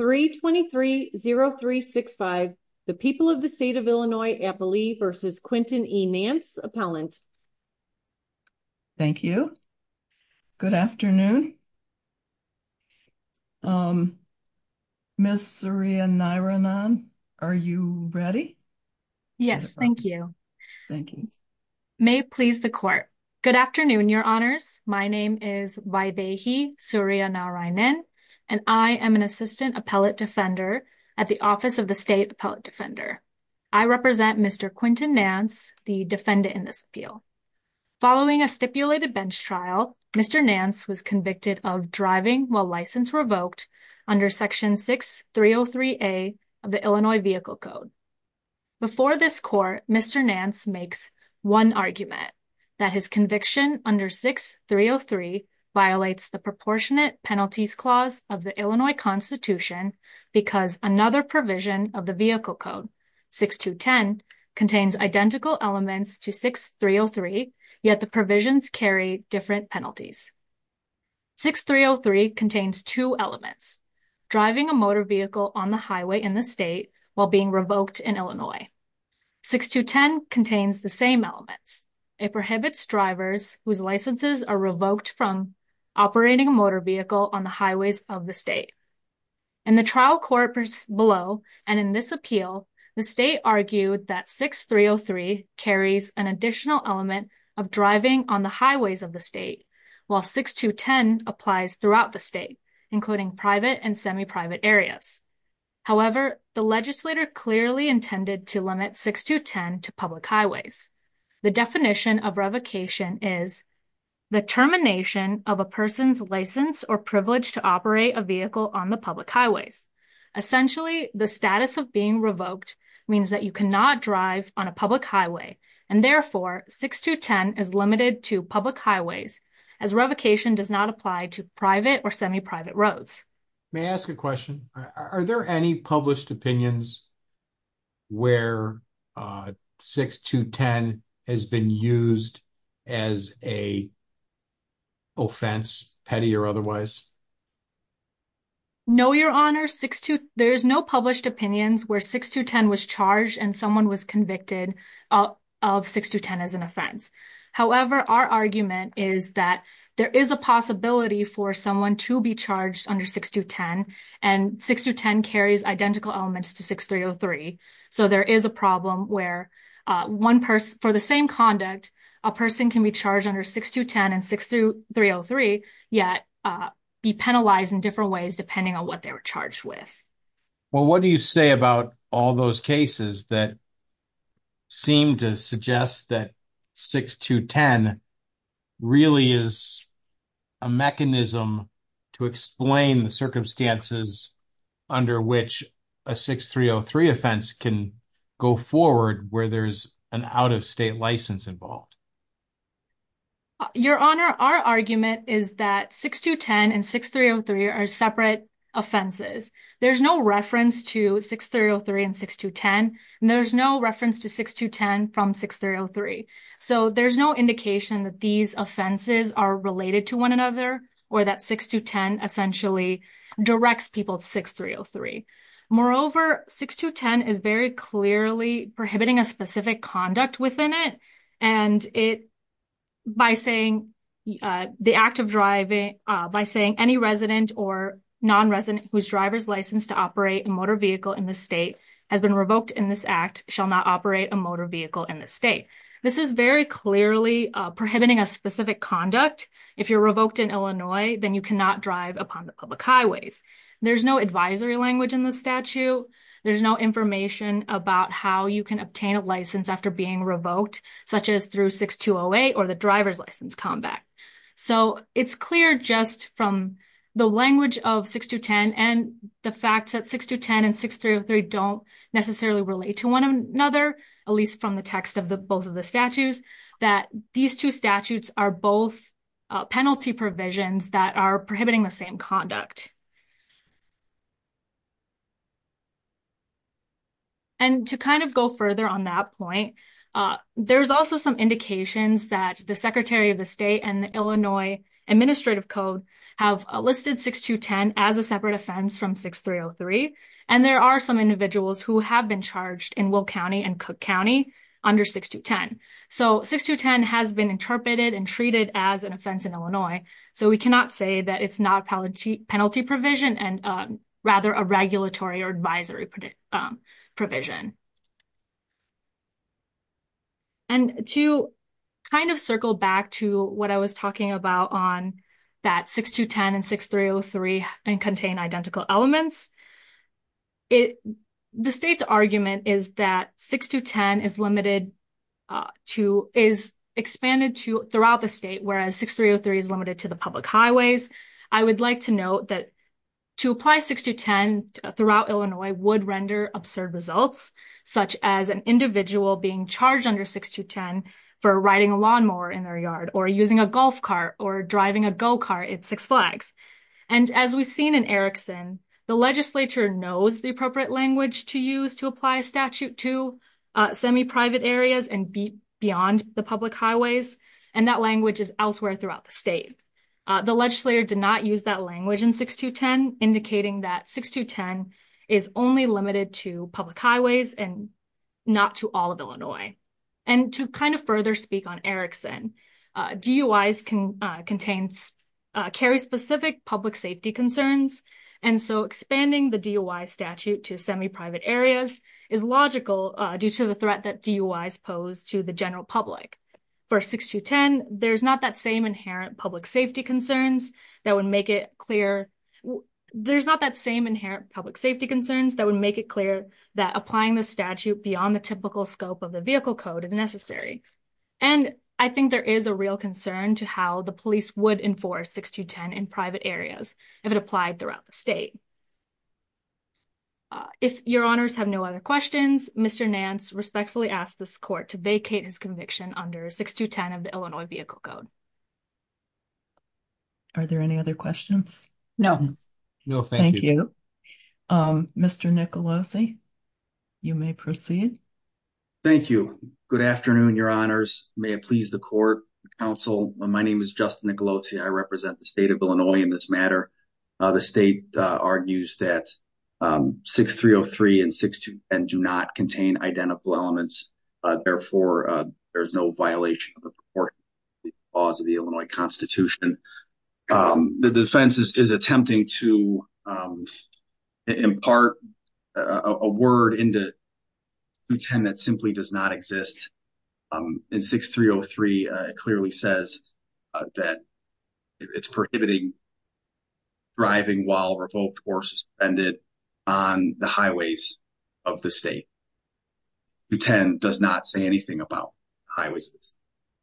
3230365, the people of the state of Illinois, Appalee, versus Quentin E. Nance, Appellant. Thank you. Good afternoon. Ms. Surya Narayanan, are you ready? Yes, thank you. Thank you. May it please the court. Good afternoon. I'm Surya Narayanan, Appellant Defender at the Office of the State Appellant Defender. I represent Mr. Quentin Nance, the defendant in this appeal. Following a stipulated bench trial, Mr. Nance was convicted of driving while license revoked under Section 6303A of the Illinois Vehicle Code. Before this court, Mr. Nance makes one argument, that his conviction under 6303 violates the Proportionate Penalties Clause of the Illinois Constitution because another provision of the Vehicle Code, 6210, contains identical elements to 6303, yet the provisions carry different penalties. 6303 contains two elements, driving a motor vehicle on the highway in the state while being revoked in Illinois. 6210 contains the same elements. It prohibits drivers whose licenses are revoked from operating a motor vehicle on the highways of the state. In the trial court below and in this appeal, the state argued that 6303 carries an additional element of driving on the highways of the state, while 6210 applies throughout the state, including private and semi-private areas. However, the legislator clearly intended to limit 6210 to public highways. The definition of revocation is the termination of a person's license or privilege to operate a vehicle on the public highways. Essentially, the status of being revoked means that you cannot drive on a public highway, and therefore, 6210 is limited to public highways as revocation does not apply to private or semi-private roads. May I ask a question? Are there any published opinions where 6210 has been used as an offense, petty or otherwise? No, Your Honor. There's no published opinions where 6210 was charged and someone was convicted of 6210 as an offense. However, our argument is that there is a possibility for someone to be charged under 6210, and 6210 carries identical elements to 6303. So, there is a problem where for the same conduct, a person can be charged under 6210 and 6303, yet be penalized in different ways depending on what they were charged with. Well, what do you say about all those cases that seem to suggest that 6210 really is a mechanism to explain the circumstances under which a 6303 offense can go forward where there's an out-of-state license involved? Your Honor, our argument is that 6210 and 6303 are separate offenses. There's no reference to 6303 and 6210, and there's no reference to 6210 from 6303. So, there's no indication that these offenses are related to one another or that 6210 essentially directs people to 6303. Moreover, 6210 is very clearly prohibiting a specific conduct within it, and by saying the act of driving, by saying any resident or non-resident whose driver's license to operate a motor vehicle in the state has been revoked in this act shall not operate a motor vehicle in the state. This is very clearly prohibiting a specific conduct. If you're revoked in Illinois, then you cannot drive upon the public highways. There's no advisory language in the statute. There's no information about how you can obtain a license after being revoked, such as through 6208 or driver's license combat. So, it's clear just from the language of 6210 and the fact that 6210 and 6303 don't necessarily relate to one another, at least from the text of both of the statutes, that these two statutes are both penalty provisions that are prohibiting the same conduct. And to kind of go further on that point, there's also some indications that the Secretary of the State and the Illinois Administrative Code have listed 6210 as a separate offense from 6303, and there are some individuals who have been charged in Will County and Cook County under 6210. So, 6210 has been interpreted and treated as an offense in Illinois, so we cannot say that it's not a penalty for driving, but it is a separate offense from 6303. And to kind of circle back to what I was talking about on that 6210 and 6303 and contain identical elements, the state's argument is that 6210 is limited to, is expanded to throughout the state, whereas 6303 is limited to the public highways. I would like to note that to apply 6210 throughout Illinois would render absurd results, such as an individual being charged under 6210 for riding a lawnmower in their yard, or using a golf cart, or driving a go-kart at Six Flags. And as we've seen in Erickson, the legislature knows the appropriate language to use to apply a statute to semi-private areas and beyond the public highways, and that language is elsewhere throughout the state. The legislature did not use that language in 6210, indicating that 6210 is only limited to public highways and not to all of Illinois. And to kind of further speak on Erickson, DUIs can contain carry-specific public safety concerns, and so expanding the DUI statute to semi-private areas is logical due to the threat that DUIs pose to the general public. For 6210, there's not that same inherent public safety concerns that would make it clear, there's not that same inherent public safety concerns that would make it clear that applying the statute beyond the typical scope of the vehicle code is necessary. And I think there is a real concern to how the police would enforce 6210 in private areas if it applied throughout the state. If your honors have no other questions, Mr. Nance respectfully asks this court to vacate his conviction under 6210 of the Illinois Vehicle Code. Are there any other questions? No. No, thank you. Mr. Nicolosi, you may proceed. Thank you. Good afternoon, your honors. May it please the court, counsel. My name is Justin Nicolosi. I represent the state of Illinois in this matter. The state argues that 6303 and 6210 do not contain identical elements. Therefore, there is no violation of the proportion laws of the Illinois Constitution. The defense is attempting to impart a word into 6210 that simply does not exist. In 6303, it clearly says that it's prohibiting driving while revoked or suspended on the highways of the state. 6210 does not say anything about highways.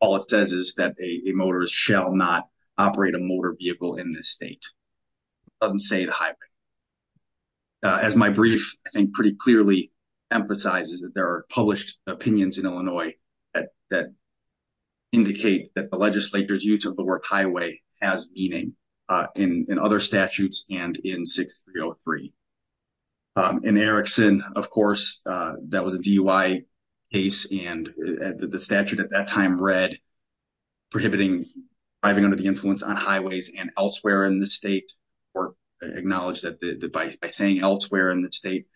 All it says is that a motorist shall not operate a motor vehicle in this state. It doesn't say the highway. As my brief, I think, pretty clearly emphasizes that there are published opinions in Illinois that indicate that the in other statutes and in 6303. In Erickson, of course, that was a DUI case and the statute at that time read prohibiting driving under the influence on highways and elsewhere in the state or acknowledged that by saying elsewhere in the state,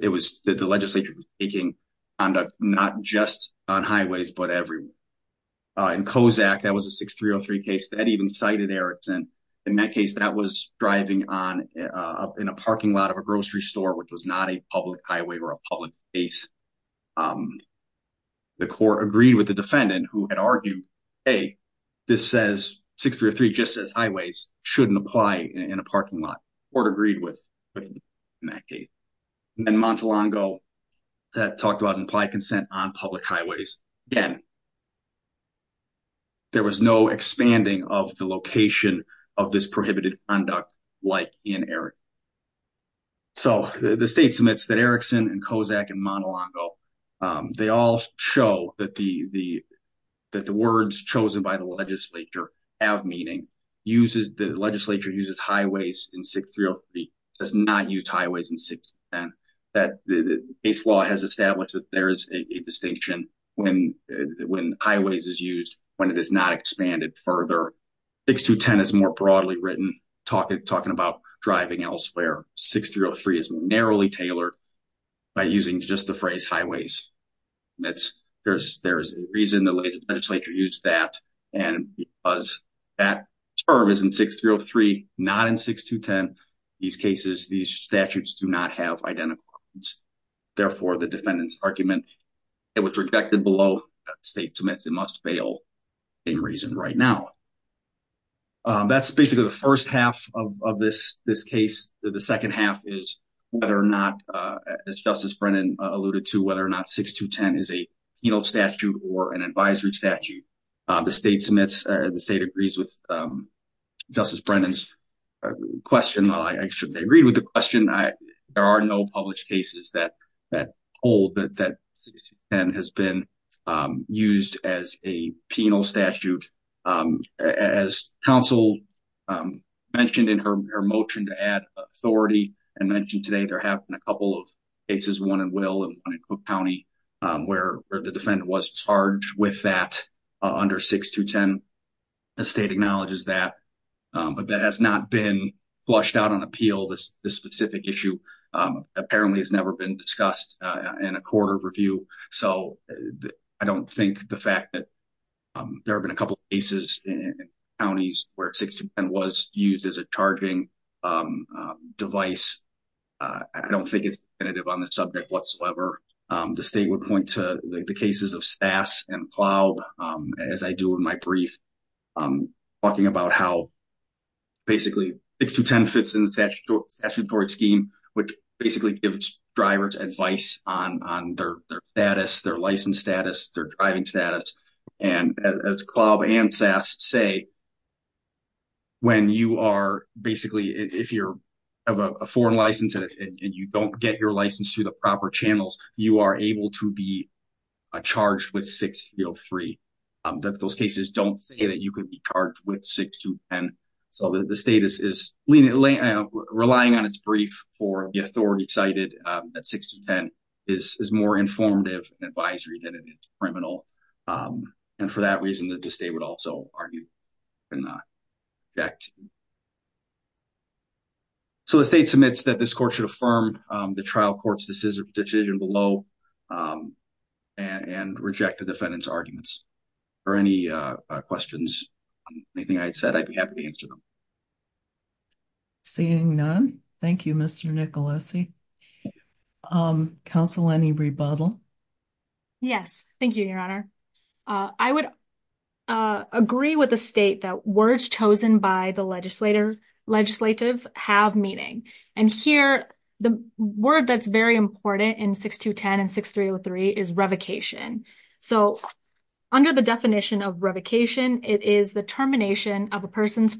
it was that the legislature was taking not just on highways, but everywhere. In Kozak, that was a 6303 case that even cited Erickson. In that case, that was driving in a parking lot of a grocery store, which was not a public highway or a public space. The court agreed with the defendant who had argued, hey, this says 6303 just says highways shouldn't apply in a parking lot. The court agreed with him in that case. In Montelongo, that talked about implied consent on public highways. Again, there was no expanding of the location of this prohibited conduct like in Erickson. So the state submits that Erickson and Kozak and Montelongo, they all show that the words chosen by the legislature have meaning. The legislature uses highways in 6303, does not use highways in 6210. It's law has established that there is a distinction when highways is used, when it is not expanded further. 6210 is more broadly written, talking about driving elsewhere. 6303 is narrowly tailored by using just the phrase highways. There's a reason the legislature used that. And because that term is in 6303, not in 6210, these cases, these statutes do not have identical arguments. Therefore, the defendant's argument, it was rejected below state submits. It must fail for the same reason right now. That's basically the first half of this case. The second half is whether or not, as Justice Brennan alluded to, whether or not 6210 is a penal statute or an advisory statute. The state submits, the state agrees with Justice Brennan's question. Well, I shouldn't say agreed with the question. There are no published cases that 6210 has been used as a penal statute. As counsel mentioned in her motion to add authority and mentioned today, there have been a couple of cases, one in Will and one in Cook County, where the defendant was charged with that under 6210. The state acknowledges that, but that has not been flushed out on appeal. This specific issue apparently has never been discussed in a court of review. So I don't think the fact that there have been a couple of cases in counties where 6210 was used as a charging device, I don't think it's definitive on the subject whatsoever. The state would point to the cases of SAS and CLAWB, as I do in my brief, talking about how basically 6210 fits in the statutory scheme, which basically gives drivers advice on their status, their license status, their driving status. As CLAWB and SAS say, when you are basically, if you have a foreign license and you don't get your license through the proper channels, you are able to be charged with 6303. Those cases don't say that you could be charged with 6210. So the state is relying on its brief for the authority cited that 6210 is more informative and advisory than it is criminal. And for that reason, the state would also argue in the fact. So the state submits that this court should affirm the trial court's decision below and reject the defendant's arguments. Are there any questions on anything I said? I'd be happy to answer them. Seeing none. Thank you, Mr. Nicolosi. Counsel, any rebuttal? Yes. Thank you, Your Honor. I would agree with the state that words chosen by the legislative have meaning. And here, the word that's very important in 6210 and 6303 is revocation. So under the definition of revocation, it is the termination of a person's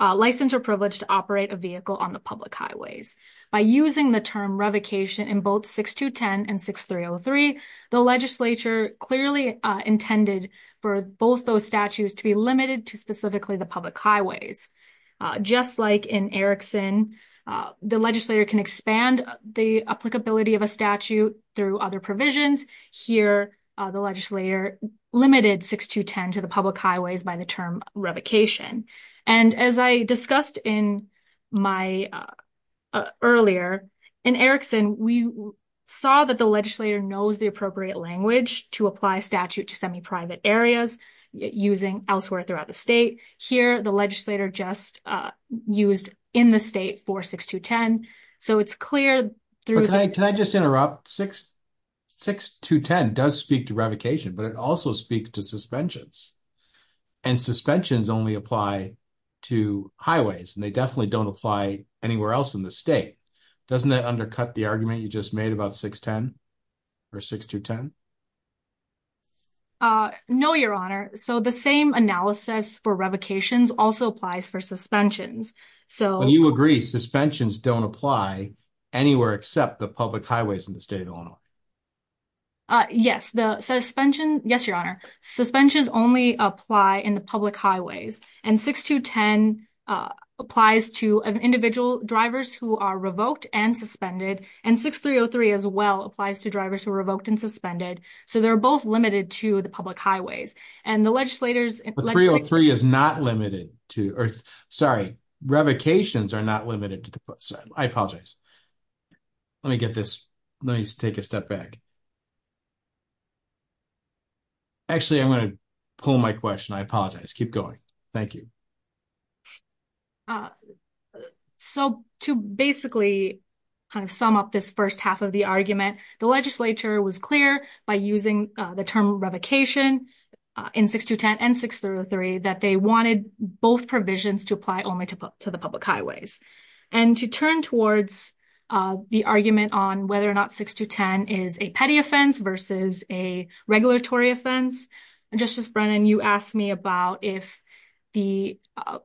license or privilege to operate a vehicle on the clearly intended for both those statutes to be limited to specifically the public highways. Just like in Erickson, the legislator can expand the applicability of a statute through other provisions. Here, the legislator limited 6210 to the public highways by the term revocation. And as I discussed in my earlier in Erickson, we saw that the legislator knows the appropriate language to apply statute to semi-private areas using elsewhere throughout the state. Here, the legislator just used in the state for 6210. So it's clear. Can I just interrupt? 6210 does speak to revocation, but it also speaks to suspensions. And suspensions only apply to highways, and they definitely don't apply anywhere else in the state. Doesn't that undercut the argument you just made about 610 or 6210? No, Your Honor. So the same analysis for revocations also applies for suspensions. When you agree suspensions don't apply anywhere except the public highways in the state of Illinois. Yes, Your Honor. Suspensions only apply in the public highways. And 6303 as well applies to drivers who are revoked and suspended. So they're both limited to the public highways. And the legislators... But 303 is not limited to... Sorry, revocations are not limited to... I apologize. Let me get this... Let me take a step back. Actually, I'm going to pull my question. I apologize. Keep going. Thank you. So to basically kind of sum up this first half of the argument, the legislature was clear by using the term revocation in 6210 and 6303 that they wanted both provisions to apply only to the public highways. And to turn towards the argument on whether or not 6210 is a petty offense versus a regulatory offense, Justice Brennan, you asked me about if the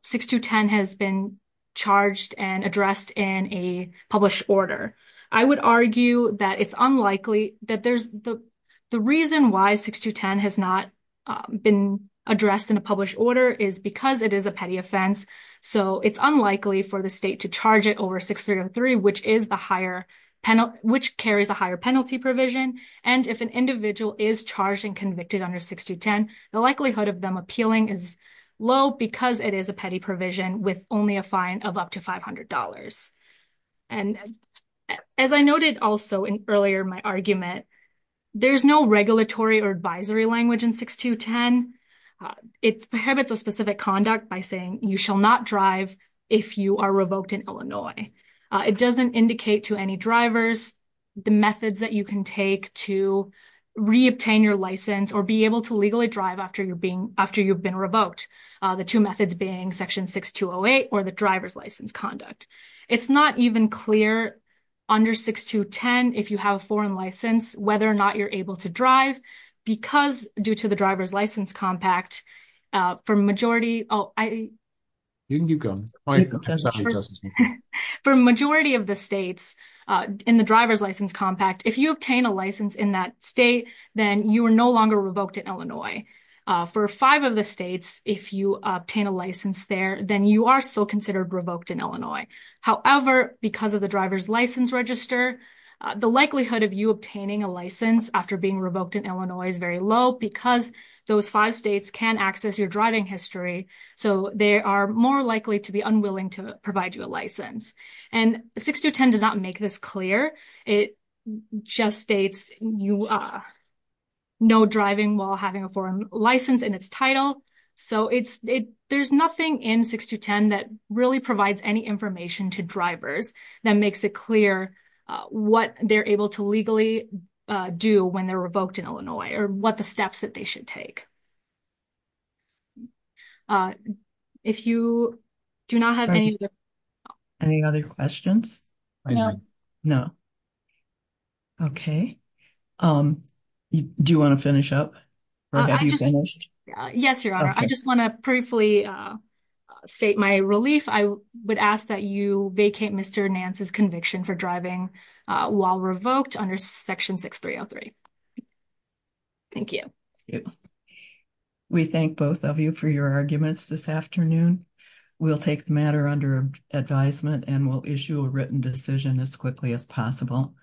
6210 has been charged and addressed in a published order. I would argue that it's unlikely that there's... The reason why 6210 has not been addressed in a published order is because it is a petty offense. So it's unlikely for the state to charge it over 6303, which carries a higher penalty provision. And if an individual is charged and convicted under 6210, the likelihood of them appealing is low because it is a petty provision with only a fine of up to $500. And as I noted also in earlier my argument, there's no regulatory or advisory language in 6210. It prohibits a specific conduct by saying, you shall not drive if you are revoked in Illinois. It doesn't indicate to any drivers the methods that you can take to reobtain your license or be able to legally drive after you've been revoked. The two methods being section 6208 or the driver's license conduct. It's not even clear under 6210 if you have a foreign license whether or not you're able to drive because due to the driver's license compact, for majority... Oh, I... You can keep going. For majority of the states in the driver's license compact, if you obtain a license in that state, then you are no longer revoked in Illinois. For five of the states, if you obtain a license there, then you are still considered revoked in Illinois. However, because of the driver's license register, the likelihood of you obtaining a license after being revoked in Illinois is very low because those five states can access your driving history. So they are more likely to be unwilling to provide you a license. And 6210 does not make this clear. It just states you are no driving while having a foreign license in its title. So there's nothing in 6210 that really provides any information to drivers that makes it clear what they're able to legally do when they're revoked in Illinois or what the other questions. No. No. Okay. Do you want to finish up or have you finished? Yes, your honor. I just want to briefly state my relief. I would ask that you vacate Mr. Nance's conviction for driving while revoked under section 6303. Thank you. We thank both of you for your arguments this afternoon. We'll take the matter under advisement and we'll issue a written decision as quickly as possible.